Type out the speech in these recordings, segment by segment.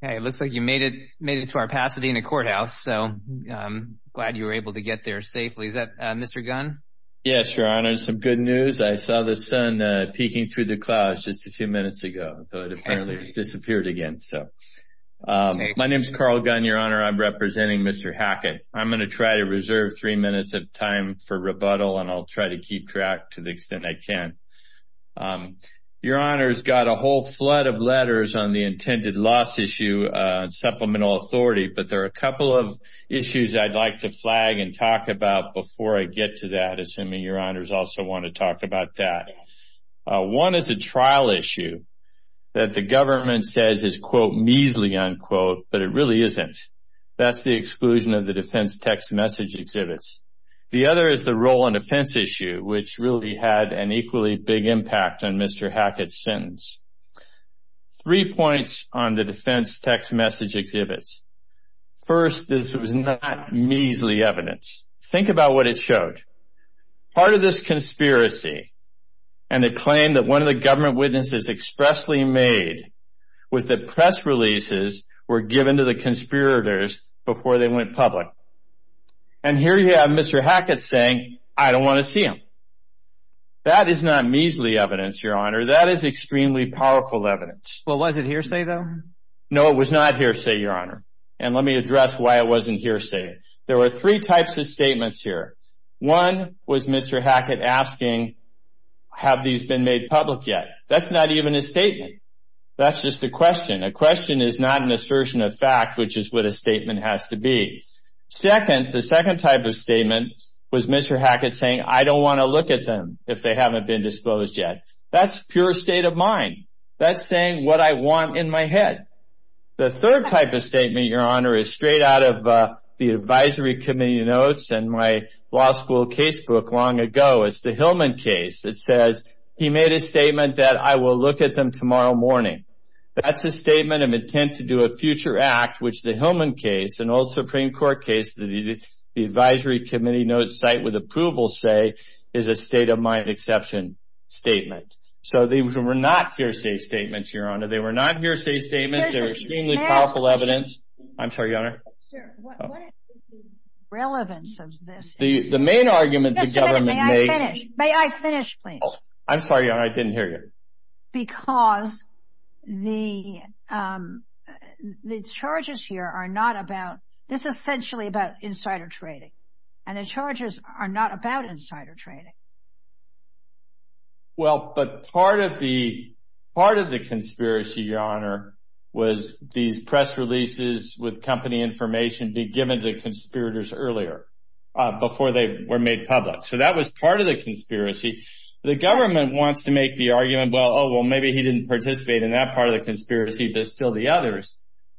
It looks like you made it to our Pasadena courthouse, so I'm glad you were able to get there safely. Is that Mr. Gunn? Yes, Your Honor. Some good news. I saw the sun peeking through the clouds just a few minutes ago, but apparently it's disappeared again. My name is Carl Gunn, Your Honor. I'm representing Mr. Hackett. I'm going to try to reserve three minutes of time for rebuttal, and I'll try to keep track to the extent I can. Your Honor's got a whole flood of letters on the intended loss issue on supplemental authority, but there are a couple of issues I'd like to flag and talk about before I get to that, assuming Your Honor's also want to talk about that. One is a trial issue that the government says is quote, measly unquote, but it really isn't. That's the exclusion of the defense text message exhibits. The other is the role on defense issue, which really had an equally big impact on Mr. Hackett's sentence. Three points on the defense text message exhibits. First, this was not measly evidence. Think about what it showed. Part of this conspiracy and the claim that one of the government witnesses expressly made was that press releases were given to the conspirators before they went public. And here you have Mr. Hackett saying, I don't want to see them. That is not measly evidence, Your Honor. That is extremely powerful evidence. Well, was it hearsay though? No, it was not hearsay, Your Honor. And let me address why it wasn't hearsay. There were three types of statements here. One was Mr. Hackett asking, have these been made public yet? That's not even a statement. That's just a question. A question is not an assertion of fact, which is what a statement has to be. Second, the second type of statement was Mr. Hackett saying, I don't want to look at them if they haven't been disclosed yet. That's pure state of mind. That's saying what I want in my head. The third type of statement, Your Honor, is straight out of the advisory committee notes and my law school casebook long ago. It's the Hillman case. It says, he made a statement that I will look at them tomorrow morning. That's a statement of intent to do a future act, which the Hillman case, an old Supreme Court case that the advisory committee notes cite with approval say, is a state of mind exception statement. So these were not hearsay statements, Your Honor. They were not hearsay statements. They were extremely powerful evidence. I'm sorry, Your Honor. Sir, what is the relevance of this? The main argument the government makes— Just a minute. May I finish, please? I'm sorry, Your Honor. I didn't hear you. Because the charges here are not about—this is essentially about insider trading. And the charges are not about insider trading. Well, but part of the conspiracy, Your Honor, was these press releases with company information being given to conspirators earlier, before they were made public. So that was part of the conspiracy. The government wants to make the argument, well, oh, well, maybe he didn't participate in that part of the conspiracy, but still the others.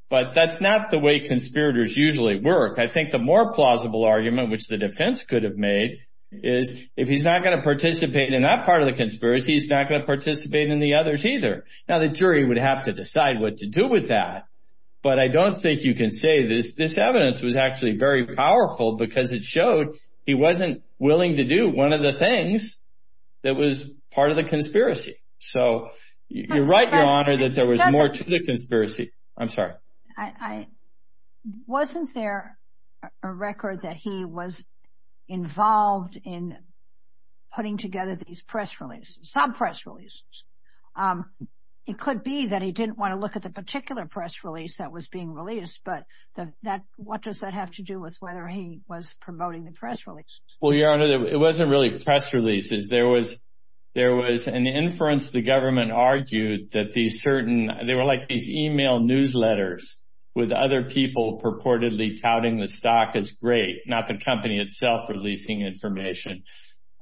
But that's not the way conspirators usually work. I think the more plausible argument, which the defense could have made, is if he's not going to participate in that part of the conspiracy, he's not going to participate in the others either. Now, the jury would have to decide what to do with that. But I don't think you can say this. This evidence was actually very powerful because it showed he wasn't willing to do one of the things that was part of the conspiracy. So you're right, Your Honor, that there was more to the conspiracy. I'm sorry. Wasn't there a record that he was involved in putting together these press releases, sub-press releases? It could be that he didn't want to look at the particular press release that was being released, but what does that have to do with whether he was promoting the press releases? Well, Your Honor, it wasn't really press releases. There was an inference the government argued that these certain, they were like these email newsletters with other people purportedly touting the stock as great, not the company itself releasing information.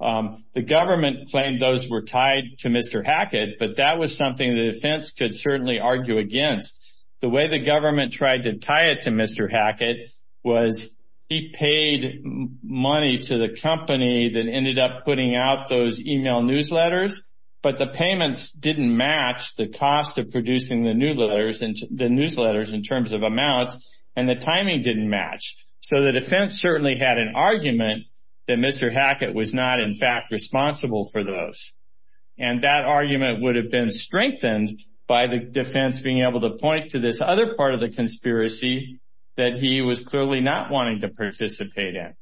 The government claimed those were tied to Mr. Hackett, but that was something the defense could certainly argue against. The way the government tried to tie it to Mr. Hackett was he paid money to the company that ended up putting out those email newsletters, but the payments didn't match the cost of producing the newsletters in terms of amounts, and the timing didn't match. So the defense certainly had an argument that Mr. Hackett was not, in fact, responsible for those. That argument would have been strengthened by the defense being able to point to this other part of the conspiracy that he was clearly not wanting to participate in.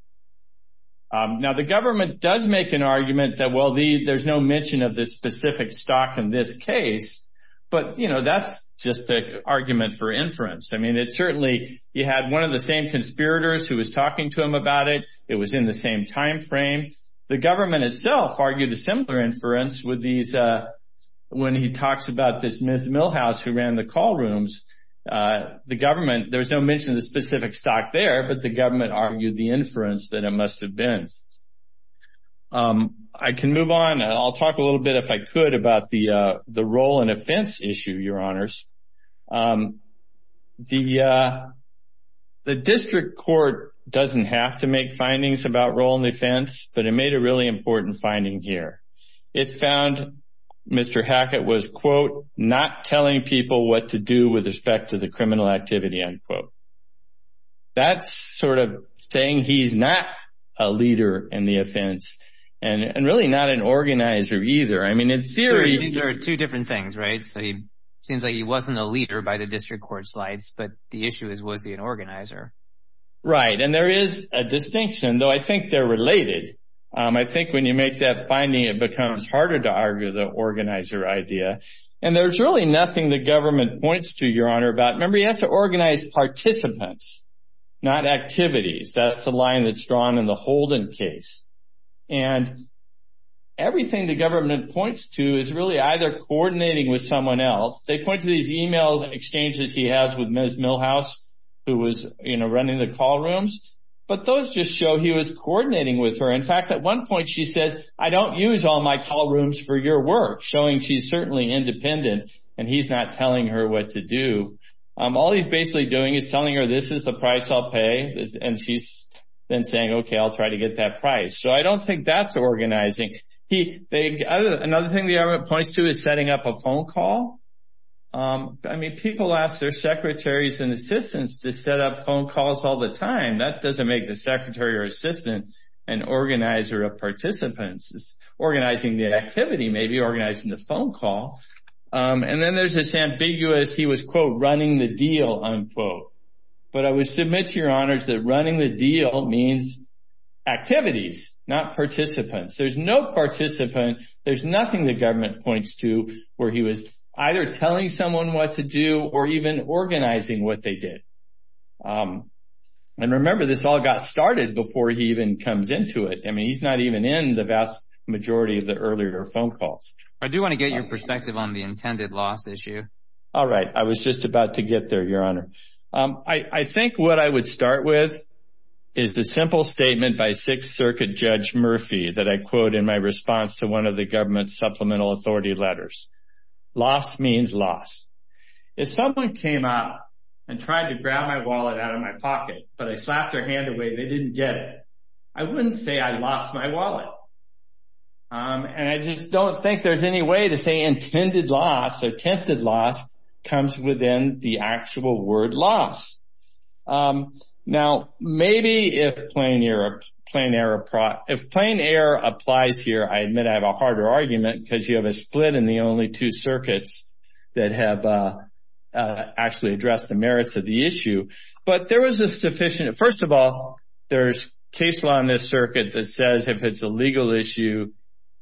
Now the government does make an argument that, well, there's no mention of this specific stock in this case, but that's just the argument for inference. It certainly, you had one of the same conspirators who was talking to him about it. It was in the same timeframe. The government itself argued a similar inference when he talks about this Ms. Milhouse who ran the call rooms. The government, there's no mention of the specific stock there, but the government argued the inference that it must have been. I can move on. I'll talk a little bit, if I could, about the role and offense issue, Your Honors. The district court doesn't have to make findings about role and offense, but it made a really important finding here. It found Mr. Hackett was, quote, not telling people what to do with respect to the criminal activity, unquote. That's sort of saying he's not a leader in the offense, and really not an organizer either. I mean, in theory- These are two different things, right? Seems like he wasn't a leader by the district court slides, but the issue is, was he an organizer? Right, and there is a distinction, though I think they're related. I think when you make that finding, it becomes harder to argue the organizer idea. And there's really nothing the government points to, Your Honor, about- Remember, he has to organize participants, not activities. That's the line that's drawn in the Holden case. And everything the government points to is really either coordinating with someone else. They point to these emails and exchanges he has with Ms. Milhouse, who was running the call rooms, but those just show he was coordinating with her. In fact, at one point, she says, I don't use all my call rooms for your work, showing she's certainly independent, and he's not telling her what to do. All he's basically doing is telling her, this is the price I'll pay, and she's then saying, okay, I'll try to get that price. So I don't think that's organizing. Another thing the government points to is setting up a phone call. I mean, people ask their secretaries and assistants to set up phone calls all the time. That doesn't make the secretary or assistant an organizer of participants. It's organizing the activity, maybe organizing the phone call. And then there's this ambiguous, he was, quote, running the deal, unquote. But I would submit to your honors that running the deal means activities, not participants. There's no participant. There's nothing the government points to where he was either telling someone what to do or even organizing what they did. And remember, this all got started before he even comes into it. I mean, he's not even in the vast majority of the earlier phone calls. I do want to get your perspective on the intended loss issue. All right. I was just about to get there, your honor. I think what I would start with is the simple statement by Sixth Circuit Judge Murphy that I quote in my response to one of the government supplemental authority letters. Loss means loss. If someone came up and tried to grab my wallet out of my pocket, but I slapped their hand away, they didn't get it, I wouldn't say I lost my wallet. And I just don't think there's any way to say intended loss or tempted loss comes within the actual word loss. Now, maybe if plain error applies here, I admit I have a harder argument because you have a split in the only two circuits that have actually addressed the merits of the issue. But there was a sufficient, first of all, there's case law in this circuit that says if it's a legal issue,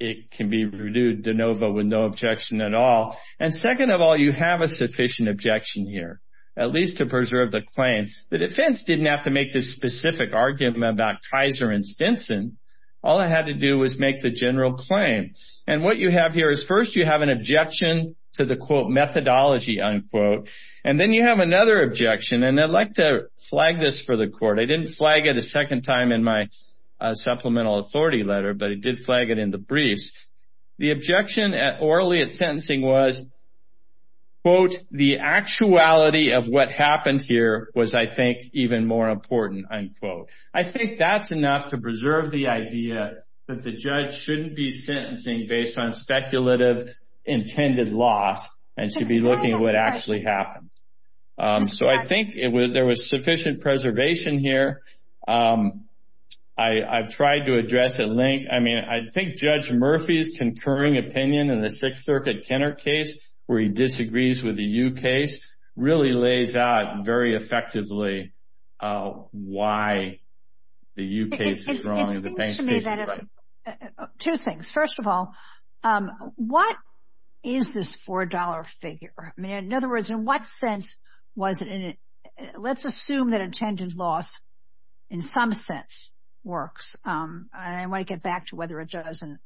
it can be renewed de novo with no objection at all. And second of all, you have a sufficient objection here, at least to preserve the claim. The defense didn't have to make this specific argument about Kaiser and Stinson. All I had to do was make the general claim. And what you have here is first you have an objection to the quote methodology unquote, and then you have another objection. And I'd like to flag this for the court. I didn't flag it a second time in my supplemental authority letter, but I did flag it in the briefs. The objection orally at sentencing was, quote, the actuality of what happened here was, I think, even more important, unquote. I think that's enough to preserve the idea that the judge shouldn't be sentencing based on speculative intended loss and should be looking at what actually happened. So I think there was sufficient preservation here. I've tried to address at length. I think Judge Murphy's concurring opinion in the Sixth Circuit Kenner case, where he disagrees with the Yu case, really lays out very effectively why the Yu case is wrong and the Pence case is right. Two things. First of all, what is this $4 figure? In other words, in what sense was it? Let's assume that intended loss, in some sense, works. I want to get back to whether it does, and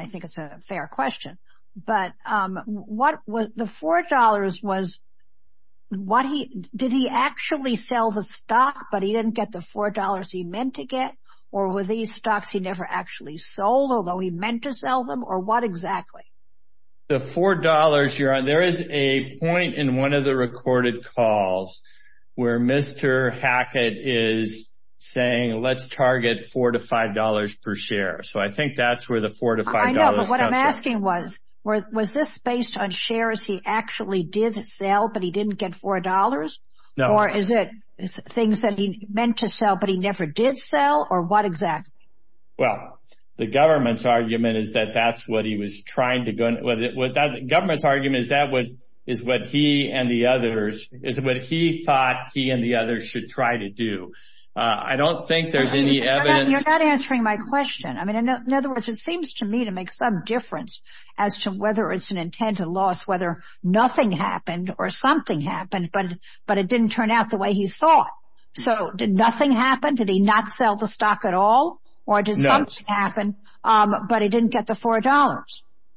I think it's a fair question. But the $4, did he actually sell the stock, but he didn't get the $4 he meant to get? Or were these stocks he never actually sold, although he meant to sell them? Or what exactly? The $4, there is a point in one of the recorded calls where Mr. Hackett is saying, let's target $4 to $5 per share. So I think that's where the $4 to $5 comes from. I know, but what I'm asking was, was this based on shares he actually did sell, but he didn't get $4? Or is it things that he meant to sell, but he never did sell? Or what exactly? Well, the government's argument is that that's what he was trying to go—the government's argument is that is what he and the others—is what he thought he and the others should try to do. I don't think there's any evidence— You're not answering my question. I mean, in other words, it seems to me to make some difference as to whether it's an intent, a loss, whether nothing happened or something happened, but it didn't turn out the way he thought. So did nothing happen? Did he not sell the stock at all? Or did something happen, but he didn't get the $4?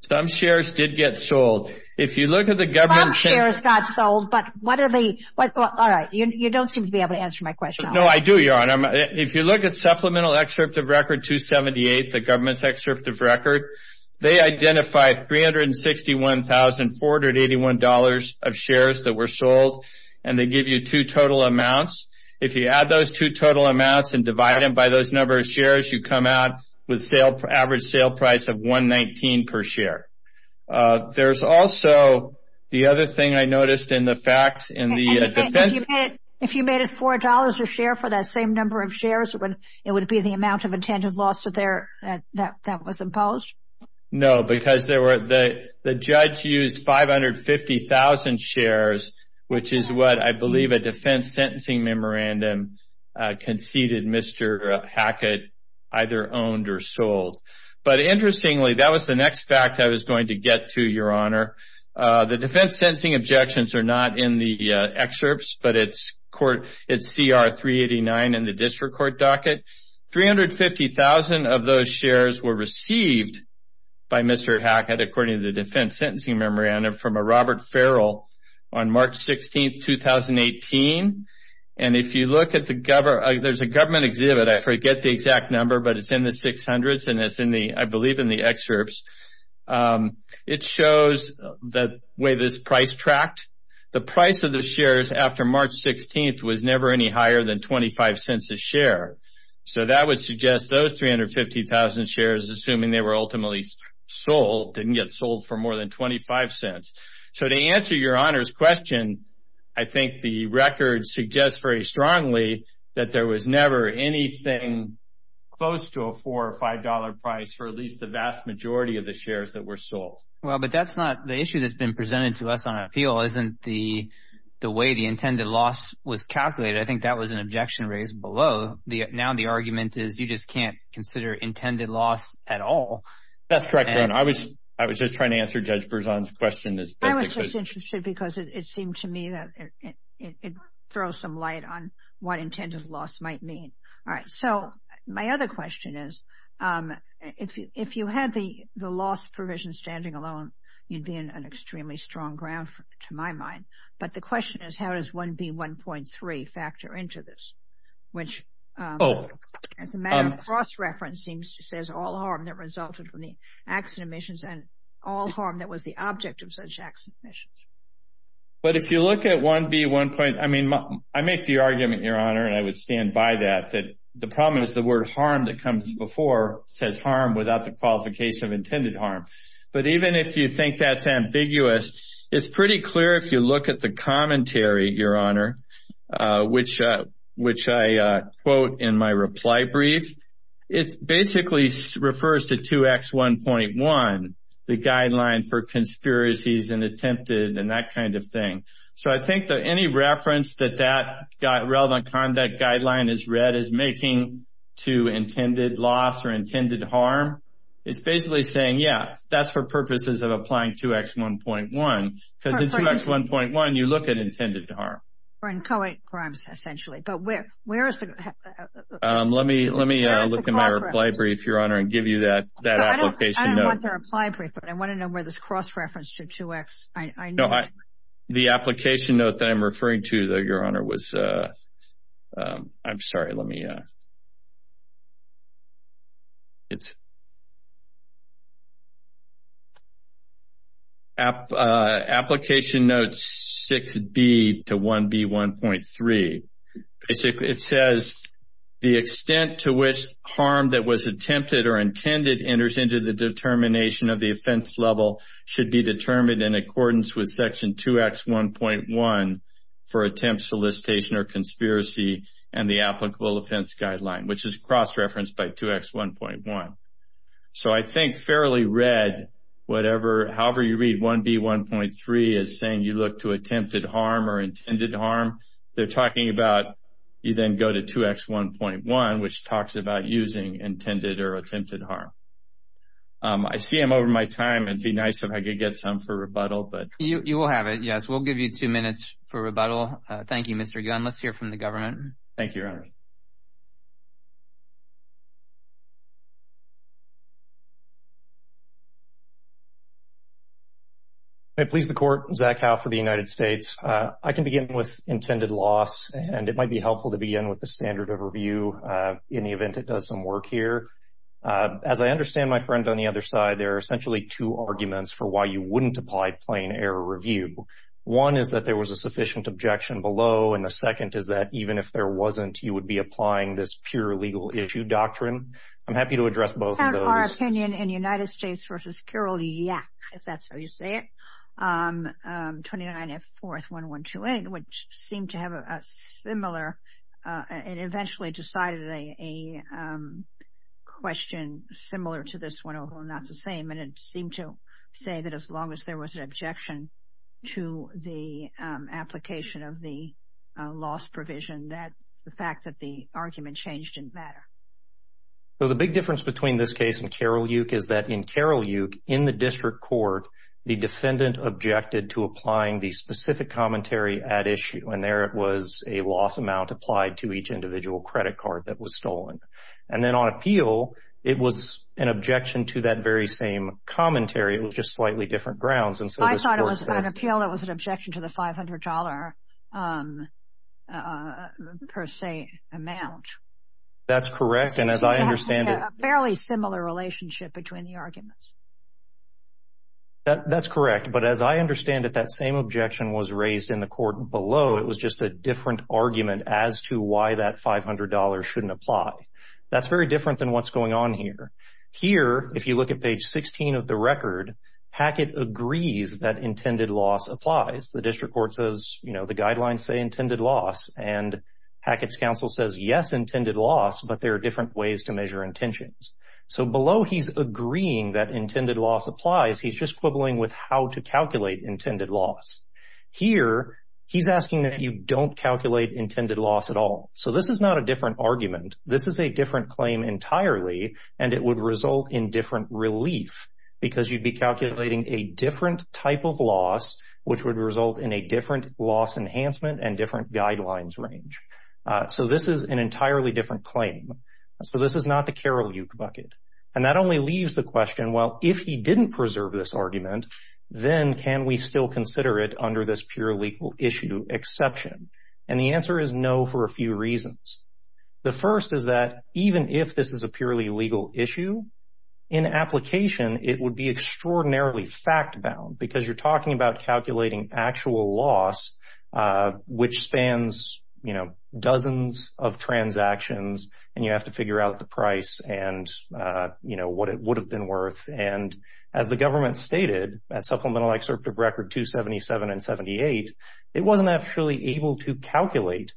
Some shares did get sold. If you look at the government— Some shares got sold, but what are the—all right, you don't seem to be able to answer my question. No, I do, Your Honor. If you look at Supplemental Excerpt of Record 278, the government's excerpt of record, they identify $361,481 of shares that were sold, and they give you two total amounts. If you add those two total amounts and divide them by those number of shares, you come out with average sale price of $119 per share. There's also the other thing I noticed in the facts in the defense— If you made it $4 a share for that same number of shares, it would be the amount of intended loss that was imposed? No, because the judge used 550,000 shares, which is what I believe a defense sentencing memorandum conceded Mr. Hackett either owned or sold. But interestingly, that was the next fact I was going to get to, Your Honor. The defense sentencing objections are not in the excerpts, but it's CR 389 in the district court docket. 350,000 of those shares were received by Mr. Hackett, according to the defense sentencing memorandum, from a Robert Farrell on March 16, 2018. And if you look at the—there's a government exhibit. I forget the exact number, but it's in the 600s, and it's in the—I believe in the excerpts. It shows the way this price tracked. The price of the shares after March 16 was never any higher than $0.25 a share, so that would suggest those 350,000 shares, assuming they were ultimately sold, didn't get sold for more than $0.25. So to answer Your Honor's question, I think the record suggests very strongly that there was never anything close to a $4 or $5 price for at least the vast majority of the shares that were sold. Well, but that's not—the issue that's been presented to us on appeal isn't the way the intended loss was calculated. I think that was an objection raised below. Now the argument is you just can't consider intended loss at all. That's correct, Your Honor. I was just trying to answer Judge Berzon's question. I was just interested because it seemed to me that it throws some light on what intended loss might mean. All right. So my other question is, if you had the loss provision standing alone, you'd be in an extremely strong ground to my mind. But the question is, how does 1B1.3 factor into this, which as a matter of cross-referencing says all harm that resulted from the accident emissions and all harm that was the object of such accident emissions? But if you look at 1B1.—I mean, I make the argument, Your Honor, and I would stand by that, that the problem is the word harm that comes before says harm without the qualification of intended harm. But even if you think that's ambiguous, it's pretty clear if you look at the commentary, Your Honor, which I quote in my reply brief, it basically refers to 2X1.1, the Guideline for Conspiracies and Attempted and that kind of thing. So I think that any reference that that relevant conduct guideline is read as making to intended loss or intended harm, it's basically saying, yeah, that's for purposes of applying 2X1.1. Because in 2X1.1, you look at intended harm. Or in co-ed crimes, essentially. But where is it? Let me look in my reply brief, Your Honor, and give you that application note. I don't want the reply brief, but I want to know where this cross-reference to 2X— The application note that I'm referring to, Your Honor, was—I'm sorry, let me—it's application note 6B to 1B1.3. It says, the extent to which harm that was attempted or intended enters into the determination of the offense level should be determined in accordance with Section 2X1.1 for attempt, solicitation, or conspiracy and the applicable offense guideline, which is cross-referenced by 2X1.1. So I think fairly read, however you read 1B1.3 is saying you look to attempted harm or intended harm. They're talking about you then go to 2X1.1, which talks about using intended or attempted harm. I see I'm over my time. It'd be nice if I could get some for rebuttal, but— You will have it, yes. We'll give you two minutes for rebuttal. Thank you, Mr. Gunn. Let's hear from the government. Thank you, Your Honor. May it please the Court, Zach Howe for the United States. I can begin with intended loss, and it might be helpful to begin with the standard of review in the event it does some work here. As I understand, my friend, on the other side, there are essentially two arguments for why you wouldn't apply plain error review. One is that there was a sufficient objection below, and the second is that even if there wasn't, you would be applying this pure legal issue doctrine. I'm happy to address both of those. Opinion in United States v. Kirill Yak, if that's how you say it, 29F4-1128, which seemed to have a similar—it eventually decided a question similar to this one, although not the same, and it seemed to say that as long as there was an objection to the application of the loss provision, the fact that the argument changed didn't matter. So the big difference between this case and Kirill Yak is that in Kirill Yak, in the district court, the defendant objected to applying the specific commentary at issue, and there it was a loss amount applied to each individual credit card that was stolen. And then on appeal, it was an objection to that very same commentary. It was just slightly different grounds, and so this Court— I thought it was on appeal, it was an objection to the $500 per se amount. That's correct, and as I understand it— So it has to be a fairly similar relationship between the arguments. That's correct, but as I understand it, that same objection was raised in the Court below. It was just a different argument as to why that $500 shouldn't apply. That's very different than what's going on here. Here, if you look at page 16 of the record, Hackett agrees that intended loss applies. The district court says, you know, the guidelines say intended loss, and Hackett's counsel says, yes, intended loss, but there are different ways to measure intentions. So below, he's agreeing that intended loss applies. He's just quibbling with how to calculate intended loss. Here, he's asking that you don't calculate intended loss at all. So this is not a different argument. This is a different claim entirely, and it would result in different relief because you'd be calculating a different type of loss, which would result in a different loss enhancement and different guidelines range. So this is an entirely different claim. So this is not the Karoljuk bucket. And that only leaves the question, well, if he didn't preserve this argument, then can we still consider it under this pure legal issue exception? And the answer is no for a few reasons. The first is that even if this is a purely legal issue, in application, it would be extraordinarily fact-bound because you're talking about calculating actual loss, which spans, you know, dozens of transactions, and you have to figure out the price and, you know, what it would have been worth. And as the government stated at Supplemental Excerpt of Record 277 and 78, it wasn't actually able to calculate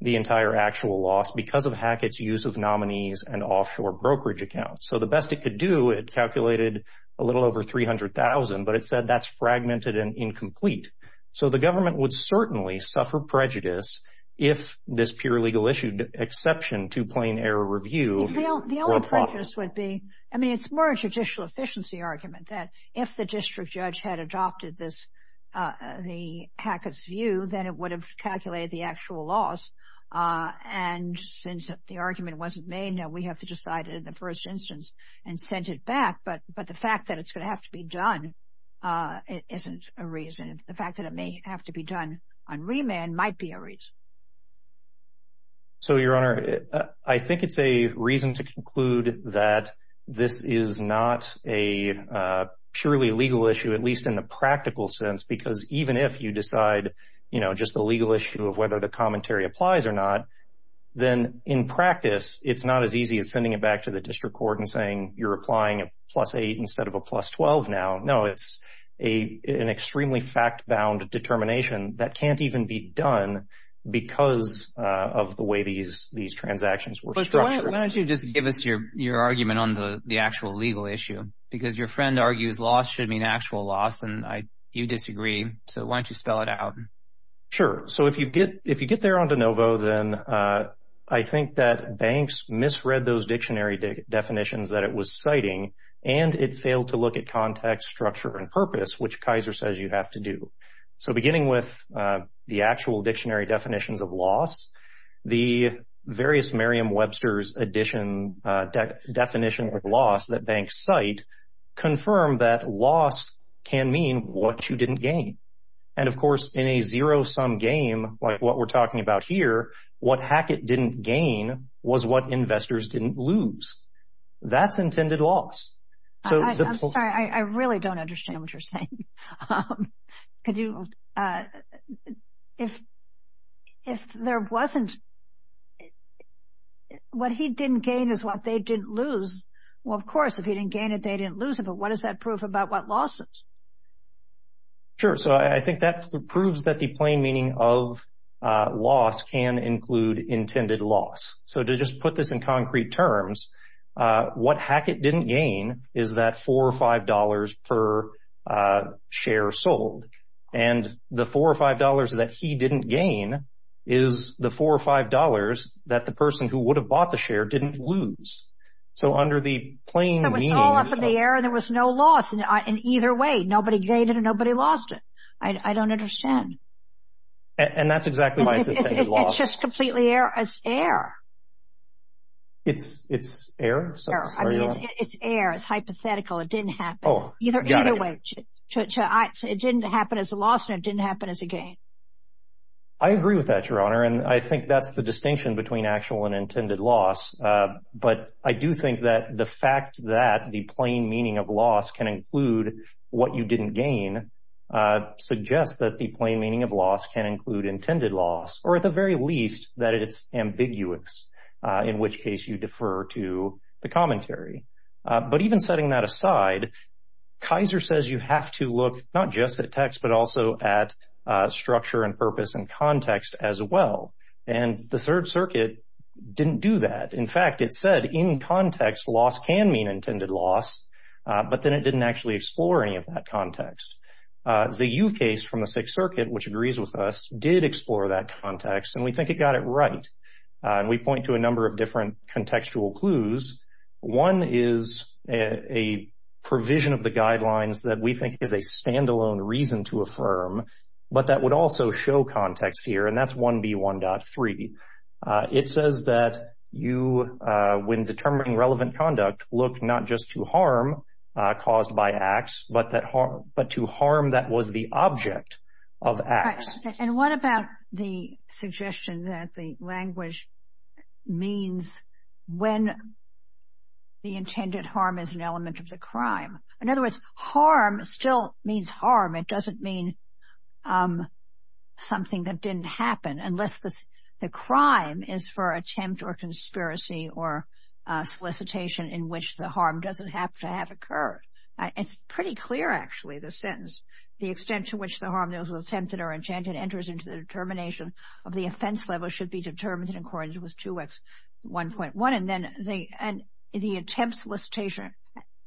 the entire actual loss because of Hackett's use of nominees and offshore brokerage accounts. So the best it could do, it calculated a little over $300,000, but it said that's fragmented and incomplete. So the government would certainly suffer prejudice if this pure legal issue exception to Plain Error Review were a problem. Well, the only prejudice would be, I mean, it's more a judicial efficiency argument that if the district judge had adopted this, the Hackett's view, then it would have calculated the actual loss. And since the argument wasn't made, now we have to decide it in the first instance and send it back. But the fact that it's going to have to be done isn't a reason. The fact that it may have to be done on remand might be a reason. So, Your Honor, I think it's a reason to conclude that this is not a purely legal issue, at least in the practical sense, because even if you decide, you know, just the legal issue of whether the commentary applies or not, then in practice, it's not as easy as sending it back to the district court and saying, you're applying a plus eight instead of a plus 12 now. No, it's an extremely fact-bound determination that can't even be done because of the way these transactions were structured. Why don't you just give us your argument on the actual legal issue? Because your friend argues loss should mean actual loss, and you disagree. So why don't you spell it out? Sure. So if you get there on de novo, then I think that Banks misread those dictionary definitions that it was citing, and it failed to look at context, structure, and purpose, which Kaiser says you have to do. So beginning with the actual dictionary definitions of loss, the various Merriam-Webster's addition definition of loss that Banks cite confirmed that loss can mean what you didn't gain. And of course, in a zero-sum game like what we're talking about here, what Hackett didn't gain was what investors didn't lose. That's intended loss. I'm sorry, I really don't understand what you're saying. What he didn't gain is what they didn't lose. Well, of course, if he didn't gain it, they didn't lose it, but what is that proof about what loss is? Sure. So I think that proves that the plain meaning of loss can include intended loss. So to just put this in concrete terms, what Hackett didn't gain is that $4 or $5 per share sold. And the $4 or $5 that he didn't gain is the $4 or $5 that the person who would have bought the share didn't lose. So under the plain meaning— It was all up in the air, and there was no loss in either way. Nobody gained it, and nobody lost it. I don't understand. And that's exactly why it's intended loss. It's just completely air. It's air. It's air? It's air. It's hypothetical. It didn't happen either way. It didn't happen as a loss, and it didn't happen as a gain. I agree with that, Your Honor, and I think that's the distinction between actual and intended loss. But I do think that the fact that the plain meaning of loss can include what you didn't gain suggests that the plain meaning of loss can include intended loss, or at the very least, that it's ambiguous, in which case you defer to the commentary. But even setting that aside, Kaiser says you have to look not just at text but also at structure and purpose and context as well. And the Third Circuit didn't do that. In fact, it said in context, loss can mean intended loss, but then it didn't actually explore any of that context. The U case from the Sixth Circuit, which agrees with us, did explore that context, and we think it got it right. And we point to a number of different contextual clues. One is a provision of the guidelines that we think is a standalone reason to affirm, but that would also show context here, and that's 1B1.3. It says that you, when determining relevant conduct, look not just to harm caused by acts but to harm that was the object of acts. And what about the suggestion that the language means when the intended harm is an element of the crime? In other words, harm still means harm. It doesn't mean something that didn't happen unless the crime is for attempt or conspiracy or solicitation in which the harm doesn't have to have occurred. It's pretty clear, actually, the sentence. The extent to which the harm that was attempted or intended enters into the determination of the offense level should be determined in accordance with 2X1.1. And the attempt, solicitation,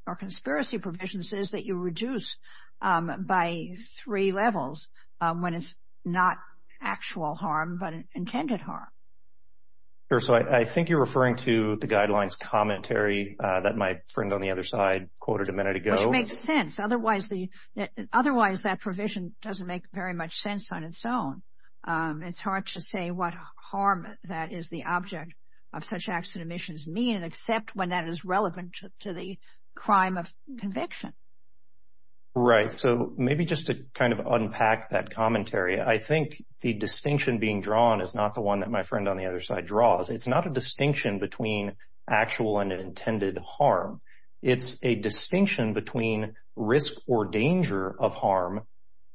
or conspiracy provisions is that you reduce by three levels when it's not actual harm but intended harm. Sure. So, I think you're referring to the guidelines commentary that my friend on the other side quoted a minute ago. Which makes sense. Otherwise, that provision doesn't make very much sense on its own. It's hard to say what harm that is the object of such acts and omissions mean except when that is relevant to the crime of conviction. Right. So, maybe just to kind of unpack that commentary, I think the distinction being drawn is not the one that my friend on the other side draws. It's not a distinction between actual and intended harm. It's a distinction between risk or danger of harm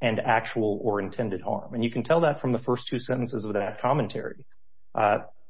and actual or intended harm. And you can tell that from the first two sentences of that commentary.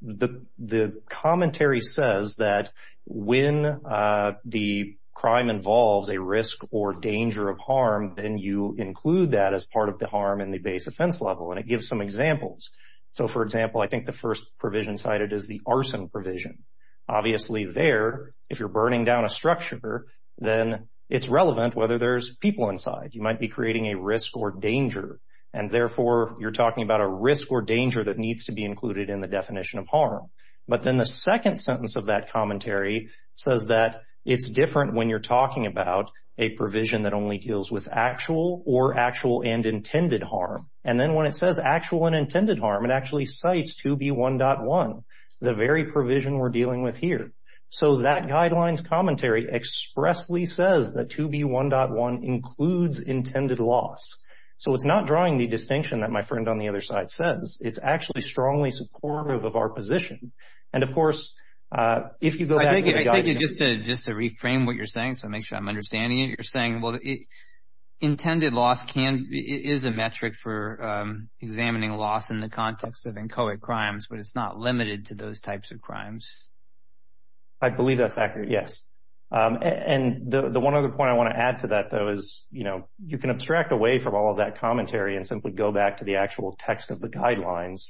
The commentary says that when the crime involves a risk or danger of harm, then you include that as part of the harm in the base offense level. And it gives some examples. So, for example, I think the first provision cited is the arson provision. Obviously there, if you're burning down a structure, then it's relevant whether there's people inside. You might be creating a risk or danger. And therefore, you're talking about a risk or danger that needs to be included in the definition of harm. But then the second sentence of that commentary says that it's different when you're talking about a provision that only deals with actual or actual and intended harm. And then when it says actual and intended harm, it actually cites 2B1.1, the very provision we're dealing with here. So, that guidelines commentary expressly says that 2B1.1 includes intended loss. So, it's not drawing the distinction that my friend on the other side says. It's actually strongly supportive of our position. And, of course, if you go back to the guidance— I take it just to reframe what you're saying, so I make sure I'm understanding it. You're saying, well, intended loss is a metric for examining loss in the context of inchoate crimes, but it's not limited to those types of crimes. I believe that's accurate, yes. And the one other point I want to add to that, though, is, you know, you can abstract away from all of that commentary and simply go back to the actual text of the guidelines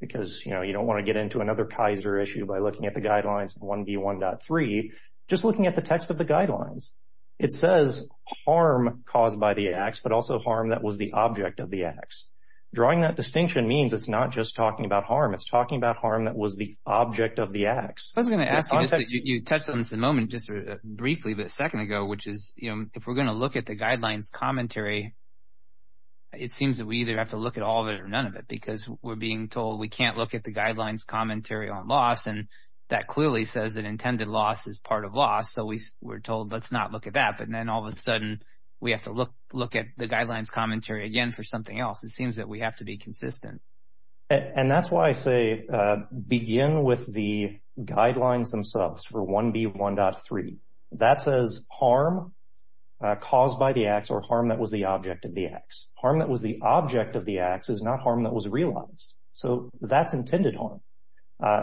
because, you know, you don't want to get into another Kaiser issue by looking at the guidelines of 1B1.3, just looking at the text of the guidelines. It says harm caused by the acts, but also harm that was the object of the acts. Drawing that distinction means it's not just talking about harm. It's talking about harm that was the object of the acts. I was going to ask, you touched on this a moment just briefly, but a second ago, which is, you know, if we're going to look at the guidelines commentary, it seems that we either have to look at all of it or none of it because we're being told we can't look at the guidelines commentary on loss, and that clearly says that intended loss is part of loss, so we're told let's not look at that. But then all of a sudden, we have to look at the guidelines commentary again for something else. It seems that we have to be consistent. And that's why I say begin with the guidelines themselves for 1B1.3. That says harm caused by the acts or harm that was the object of the acts. Harm that was the object of the acts is not harm that was realized. So that's intended harm.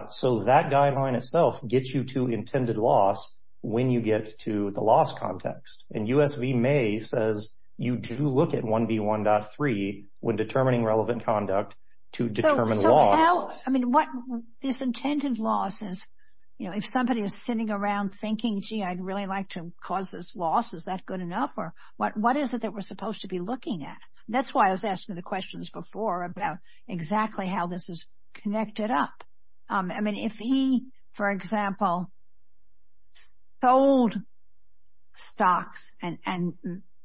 So that guideline itself gets you to intended loss when you get to the loss context, and to determine loss. So how, I mean, what this intended loss is, you know, if somebody is sitting around thinking, gee, I'd really like to cause this loss, is that good enough? Or what is it that we're supposed to be looking at? That's why I was asking the questions before about exactly how this is connected up. I mean, if he, for example, sold stocks and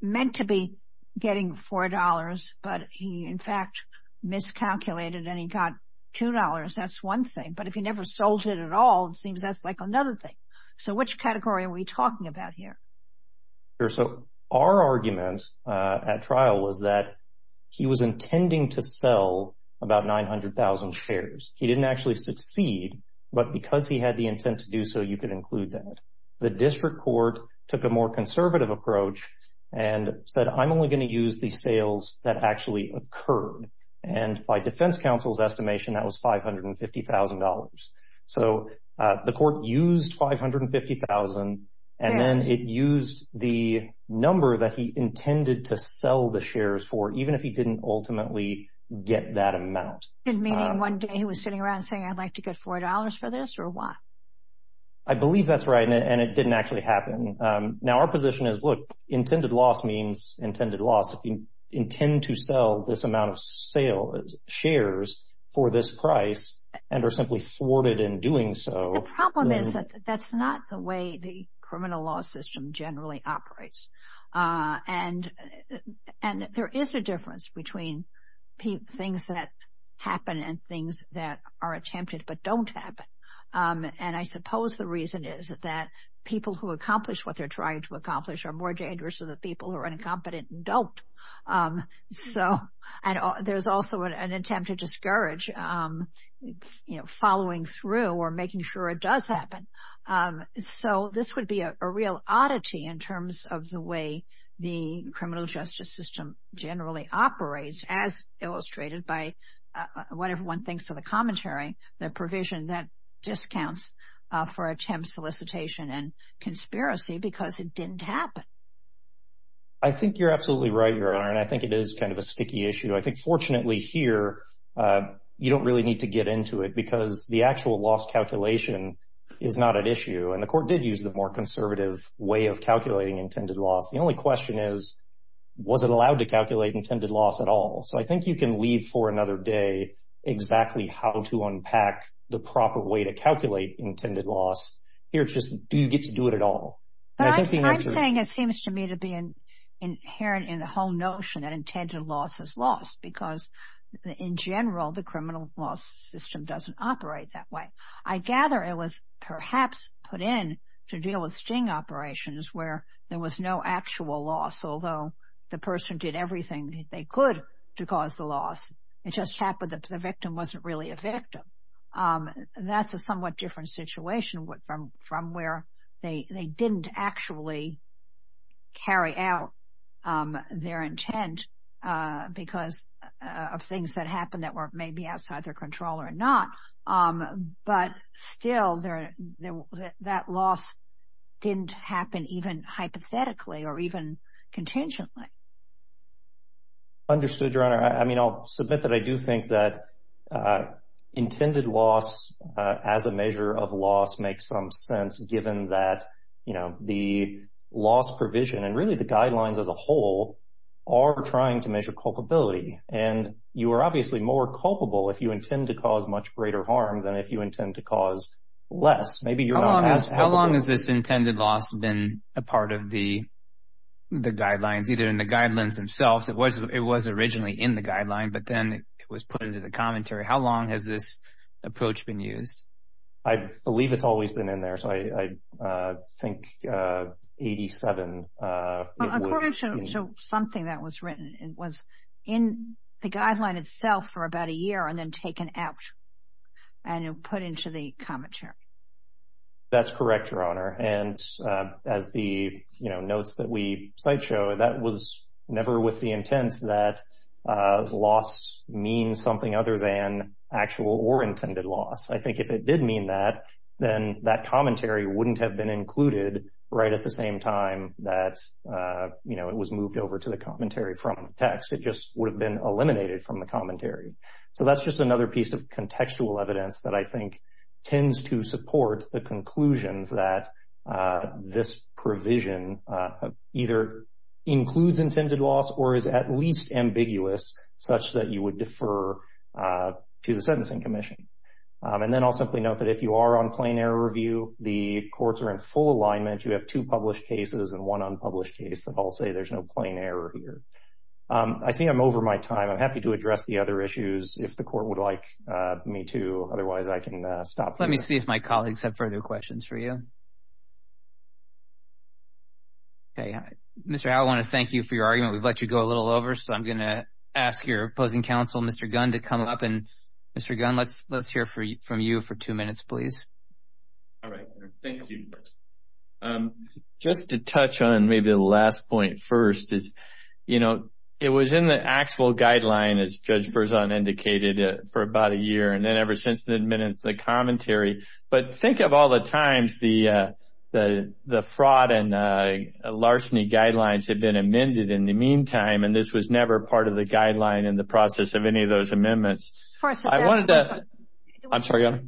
meant to be getting $4, but he, in fact, miscalculated and he got $2, that's one thing. But if he never sold it at all, it seems that's like another thing. So which category are we talking about here? So our argument at trial was that he was intending to sell about 900,000 shares. He didn't actually succeed. But because he had the intent to do so, you could include that. The district court took a more conservative approach and said, I'm only going to use the And by defense counsel's estimation, that was $550,000. So the court used $550,000 and then it used the number that he intended to sell the shares for, even if he didn't ultimately get that amount. Meaning one day he was sitting around saying, I'd like to get $4 for this or what? I believe that's right. And it didn't actually happen. Now, our position is, look, intended loss means intended loss. Intend to sell this amount of shares for this price and are simply thwarted in doing so. The problem is that that's not the way the criminal law system generally operates. And there is a difference between things that happen and things that are attempted but don't happen. And I suppose the reason is that people who accomplish what they're trying to accomplish are more dangerous than the people who are incompetent and don't. So there's also an attempt to discourage following through or making sure it does happen. So this would be a real oddity in terms of the way the criminal justice system generally operates, as illustrated by what everyone thinks of the commentary, the provision that discounts for attempt solicitation and conspiracy because it didn't happen. I think you're absolutely right, Your Honor. And I think it is kind of a sticky issue. I think fortunately here, you don't really need to get into it because the actual loss calculation is not an issue. And the court did use the more conservative way of calculating intended loss. The only question is, was it allowed to calculate intended loss at all? So I think you can leave for another day exactly how to unpack the proper way to calculate intended loss. Here, it's just, do you get to do it at all? I'm saying it seems to me to be inherent in the whole notion that intended loss is lost because in general, the criminal law system doesn't operate that way. I gather it was perhaps put in to deal with sting operations where there was no actual loss, although the person did everything they could to cause the loss. It just happened that the victim wasn't really a victim. That's a somewhat different situation from where they didn't actually carry out their intent because of things that happened that were maybe outside their control or not. But still, that loss didn't happen even hypothetically or even contingently. Understood, Your Honor. I mean, I'll submit that I do think that intended loss as a measure of loss makes some sense given that, you know, the loss provision and really the guidelines as a whole are trying to measure culpability. And you are obviously more culpable if you intend to cause much greater harm than if you intend to cause less. How long has this intended loss been a part of the guidelines, either in the guidelines themselves? It was originally in the guideline, but then it was put into the commentary. How long has this approach been used? I believe it's always been in there. So I think 87. According to something that was written, it was in the guideline itself for about a year and then taken out and put into the commentary. That's correct, Your Honor. And as the, you know, notes that we site show, that was never with the intent that loss means something other than actual or intended loss. I think if it did mean that, then that commentary wouldn't have been included right at the same time that, you know, it was moved over to the commentary from the text. It just would have been eliminated from the commentary. So that's just another piece of contextual evidence that I think tends to support the conclusions that this provision either includes intended loss or is at least ambiguous such that you would defer to the Sentencing Commission. And then I'll simply note that if you are on plain error review, the courts are in full alignment. You have two published cases and one unpublished case that all say there's no plain error here. I see I'm over my time. I'm happy to address the other issues if the court would like me to. Otherwise, I can stop. Let me see if my colleagues have further questions for you. Okay. Mr. Howell, I want to thank you for your argument. We've let you go a little over. So I'm going to ask your opposing counsel, Mr. Gunn, to come up. And Mr. Gunn, let's hear from you for two minutes, please. All right. Thank you. Just to touch on maybe the last point first is, you know, it was in the actual guideline, as Judge Berzon indicated, for about a year. And ever since then, it's been in the commentary. But think of all the times the fraud and larceny guidelines have been amended in the meantime. And this was never part of the guideline in the process of any of those amendments. I'm sorry.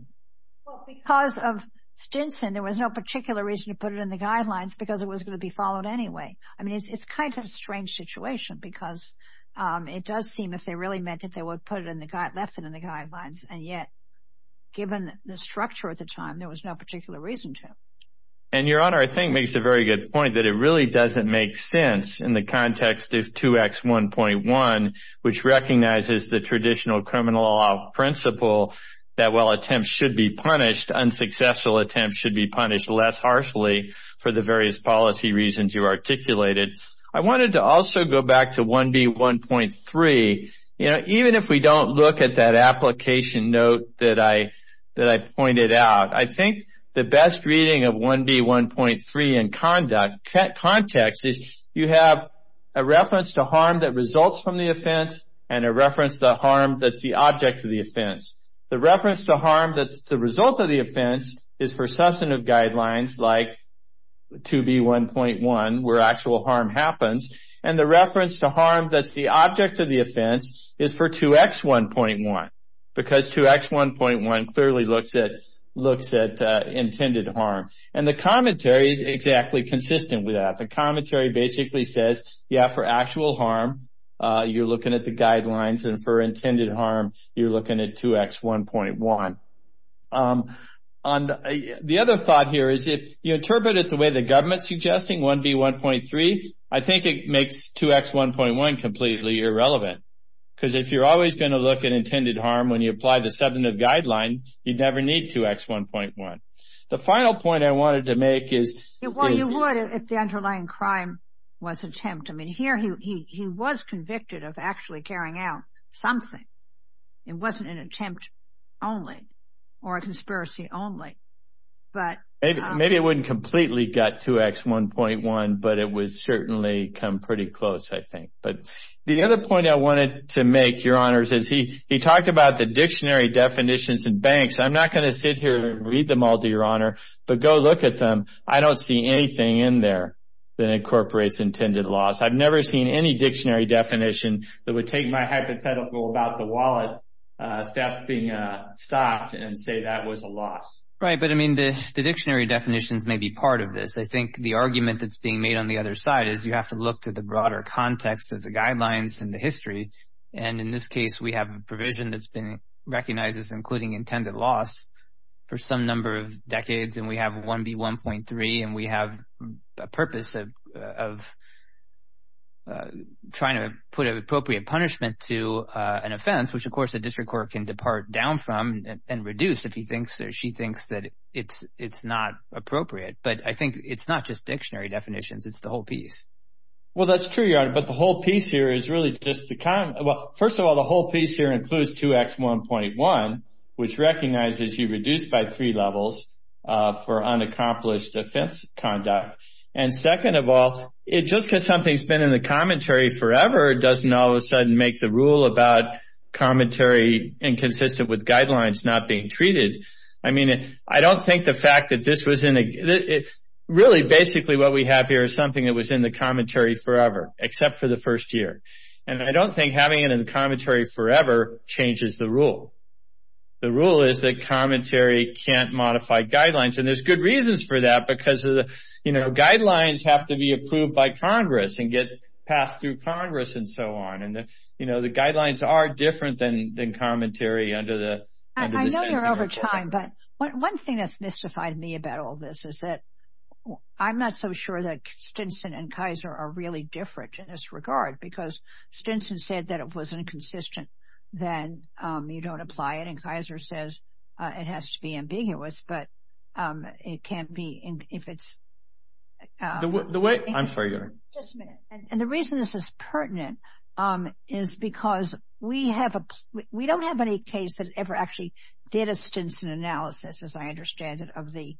Because of Stinson, there was no particular reason to put it in the guidelines because it was going to be followed anyway. I mean, it's kind of a strange situation because it does seem if they really meant it, they would have left it in the guidelines. And yet, given the structure at the time, there was no particular reason to. And Your Honor, I think makes a very good point that it really doesn't make sense in the context of 2X1.1, which recognizes the traditional criminal law principle that while attempts should be punished, unsuccessful attempts should be punished less harshly for the various policy reasons you articulated. I wanted to also go back to 1B1.3. Even if we don't look at that application note that I pointed out, I think the best reading of 1B1.3 in context is you have a reference to harm that results from the offense and a reference to the harm that's the object of the offense. The reference to harm that's the result of the offense is for substantive guidelines like 2B1.1 where actual harm happens. And the reference to harm that's the object of the offense is for 2X1.1 because 2X1.1 clearly looks at intended harm. And the commentary is exactly consistent with that. The commentary basically says, yeah, for actual harm, you're looking at the guidelines. And for intended harm, you're looking at 2X1.1. And the other thought here is if you interpret it the way the government's suggesting, 1B1.3, I think it makes 2X1.1 completely irrelevant. Because if you're always going to look at intended harm when you apply the substantive guideline, you'd never need 2X1.1. The final point I wanted to make is- Well, you would if the underlying crime was attempt. I mean, here he was convicted of actually carrying out something. It wasn't an attempt only. Or a conspiracy only. But- Maybe it wouldn't completely get 2X1.1, but it would certainly come pretty close, I think. But the other point I wanted to make, Your Honors, is he talked about the dictionary definitions in banks. I'm not going to sit here and read them all to Your Honor, but go look at them. I don't see anything in there that incorporates intended loss. I've never seen any dictionary definition that would take my hypothetical about the that was a loss. Right. But, I mean, the dictionary definitions may be part of this. I think the argument that's being made on the other side is you have to look to the broader context of the guidelines and the history. And in this case, we have a provision that's been recognized as including intended loss for some number of decades. And we have 1B1.3. And we have a purpose of trying to put an appropriate punishment to an offense, which, of course, a district court can depart down from and reduce if he thinks or she thinks that it's not appropriate. But I think it's not just dictionary definitions. It's the whole piece. Well, that's true, Your Honor. But the whole piece here is really just the, well, first of all, the whole piece here includes 2X1.1, which recognizes you reduced by three levels for unaccomplished offense conduct. And second of all, it just because something's been in the commentary forever doesn't all the rule about commentary inconsistent with guidelines not being treated. Really, basically, what we have here is something that was in the commentary forever, except for the first year. And I don't think having it in the commentary forever changes the rule. The rule is that commentary can't modify guidelines. And there's good reasons for that because guidelines have to be approved by Congress and get passed through Congress and so on. You know, the guidelines are different than commentary under the Stinson Act. I know you're over time, but one thing that's mystified me about all this is that I'm not so sure that Stinson and Kaiser are really different in this regard because Stinson said that if it wasn't consistent, then you don't apply it. And Kaiser says it has to be ambiguous. But it can't be if it's... I'm sorry, Your Honor. Just a minute. And the reason this is pertinent is because we don't have any case that ever actually did a Stinson analysis, as I understand it, of the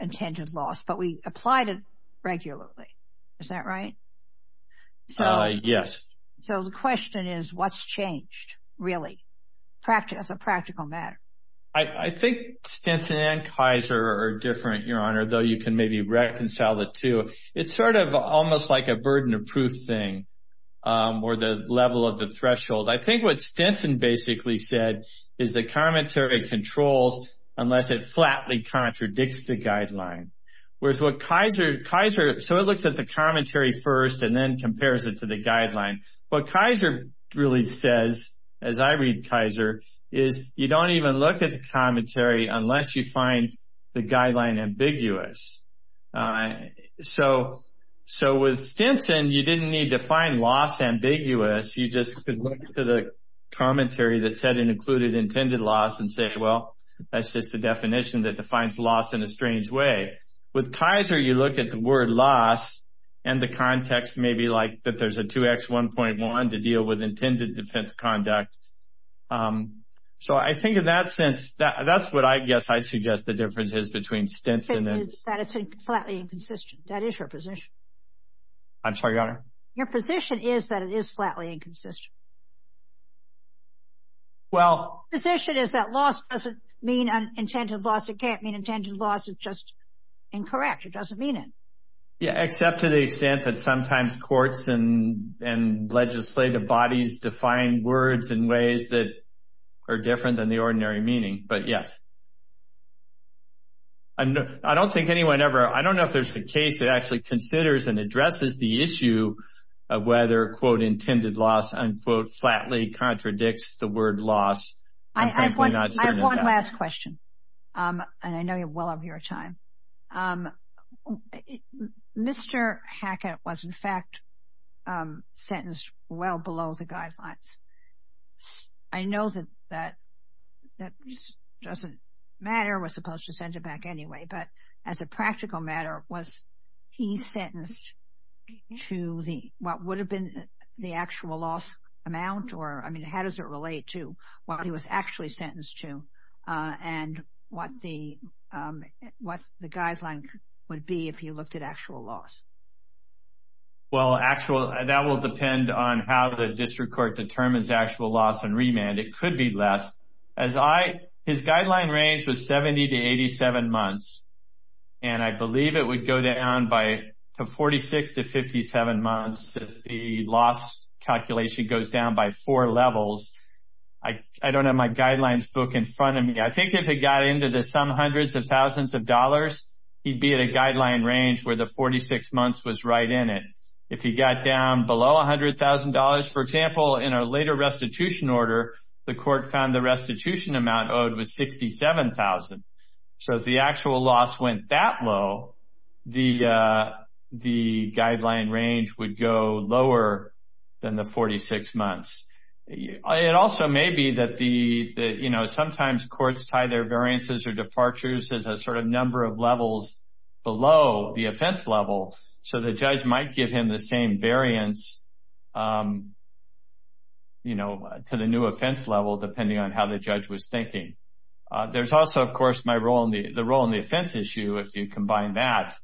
intended loss, but we applied it regularly. Is that right? Yes. So the question is, what's changed, really? That's a practical matter. I think Stinson and Kaiser are different, Your Honor, though you can maybe reconcile the two. It's sort of almost like a burden of proof thing, or the level of the threshold. I think what Stinson basically said is the commentary controls unless it flatly contradicts the guideline. So it looks at the commentary first and then compares it to the guideline. What Kaiser really says, as I read Kaiser, is you don't even look at the commentary unless you find the guideline ambiguous. So with Stinson, you didn't need to find loss ambiguous. You just could look to the commentary that said it included intended loss and say, well, that's just the definition that defines loss in a strange way. With Kaiser, you look at the word loss and the context, maybe like that there's a 2x1.1 to deal with intended defense conduct. So I think in that sense, that's what I guess I'd suggest the difference is between Stinson and Kaiser. That it's flatly inconsistent. That is your position. I'm sorry, Your Honor? Your position is that it is flatly inconsistent. Well. The position is that loss doesn't mean an intended loss. It can't mean intended loss. It's just incorrect. It doesn't mean it. Yeah, except to the extent that sometimes courts and legislative bodies define words in ways that are different than the ordinary meaning. But yes. I don't think anyone ever, I don't know if there's a case that actually considers and addresses the issue of whether, quote, intended loss, unquote, flatly contradicts the word loss. I have one last question. And I know you're well over your time. Mr. Hackett was, in fact, sentenced well below the guidelines. So I know that that doesn't matter. We're supposed to send it back anyway. But as a practical matter, was he sentenced to what would have been the actual loss amount? Or, I mean, how does it relate to what he was actually sentenced to? And what the guideline would be if he looked at actual loss? Well, actual, that will depend on how the district court determines actual loss and remand. It could be less. His guideline range was 70 to 87 months. And I believe it would go down to 46 to 57 months if the loss calculation goes down by four levels. I don't have my guidelines book in front of me. I think if it got into the some hundreds of thousands of dollars, he'd be at a guideline range where the 46 months was right in it. If he got down below $100,000, for example, in a later restitution order, the court found the restitution amount owed was $67,000. So if the actual loss went that low, the guideline range would go lower than the 46 months. It also may be that sometimes courts tie their variances or departures as a sort of number of levels below the offense level. So the judge might give him the same variance, you know, to the new offense level, depending on how the judge was thinking. There's also, of course, the role in the offense issue. If you combine that,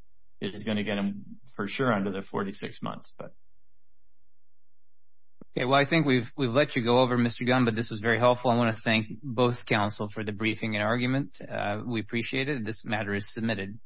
it is going to get him for sure under the 46 months. Okay. Well, I think we've let you go over, Mr. Gunn, but this was very helpful. I want to thank both counsel for the briefing and argument. We appreciate it. This matter is submitted.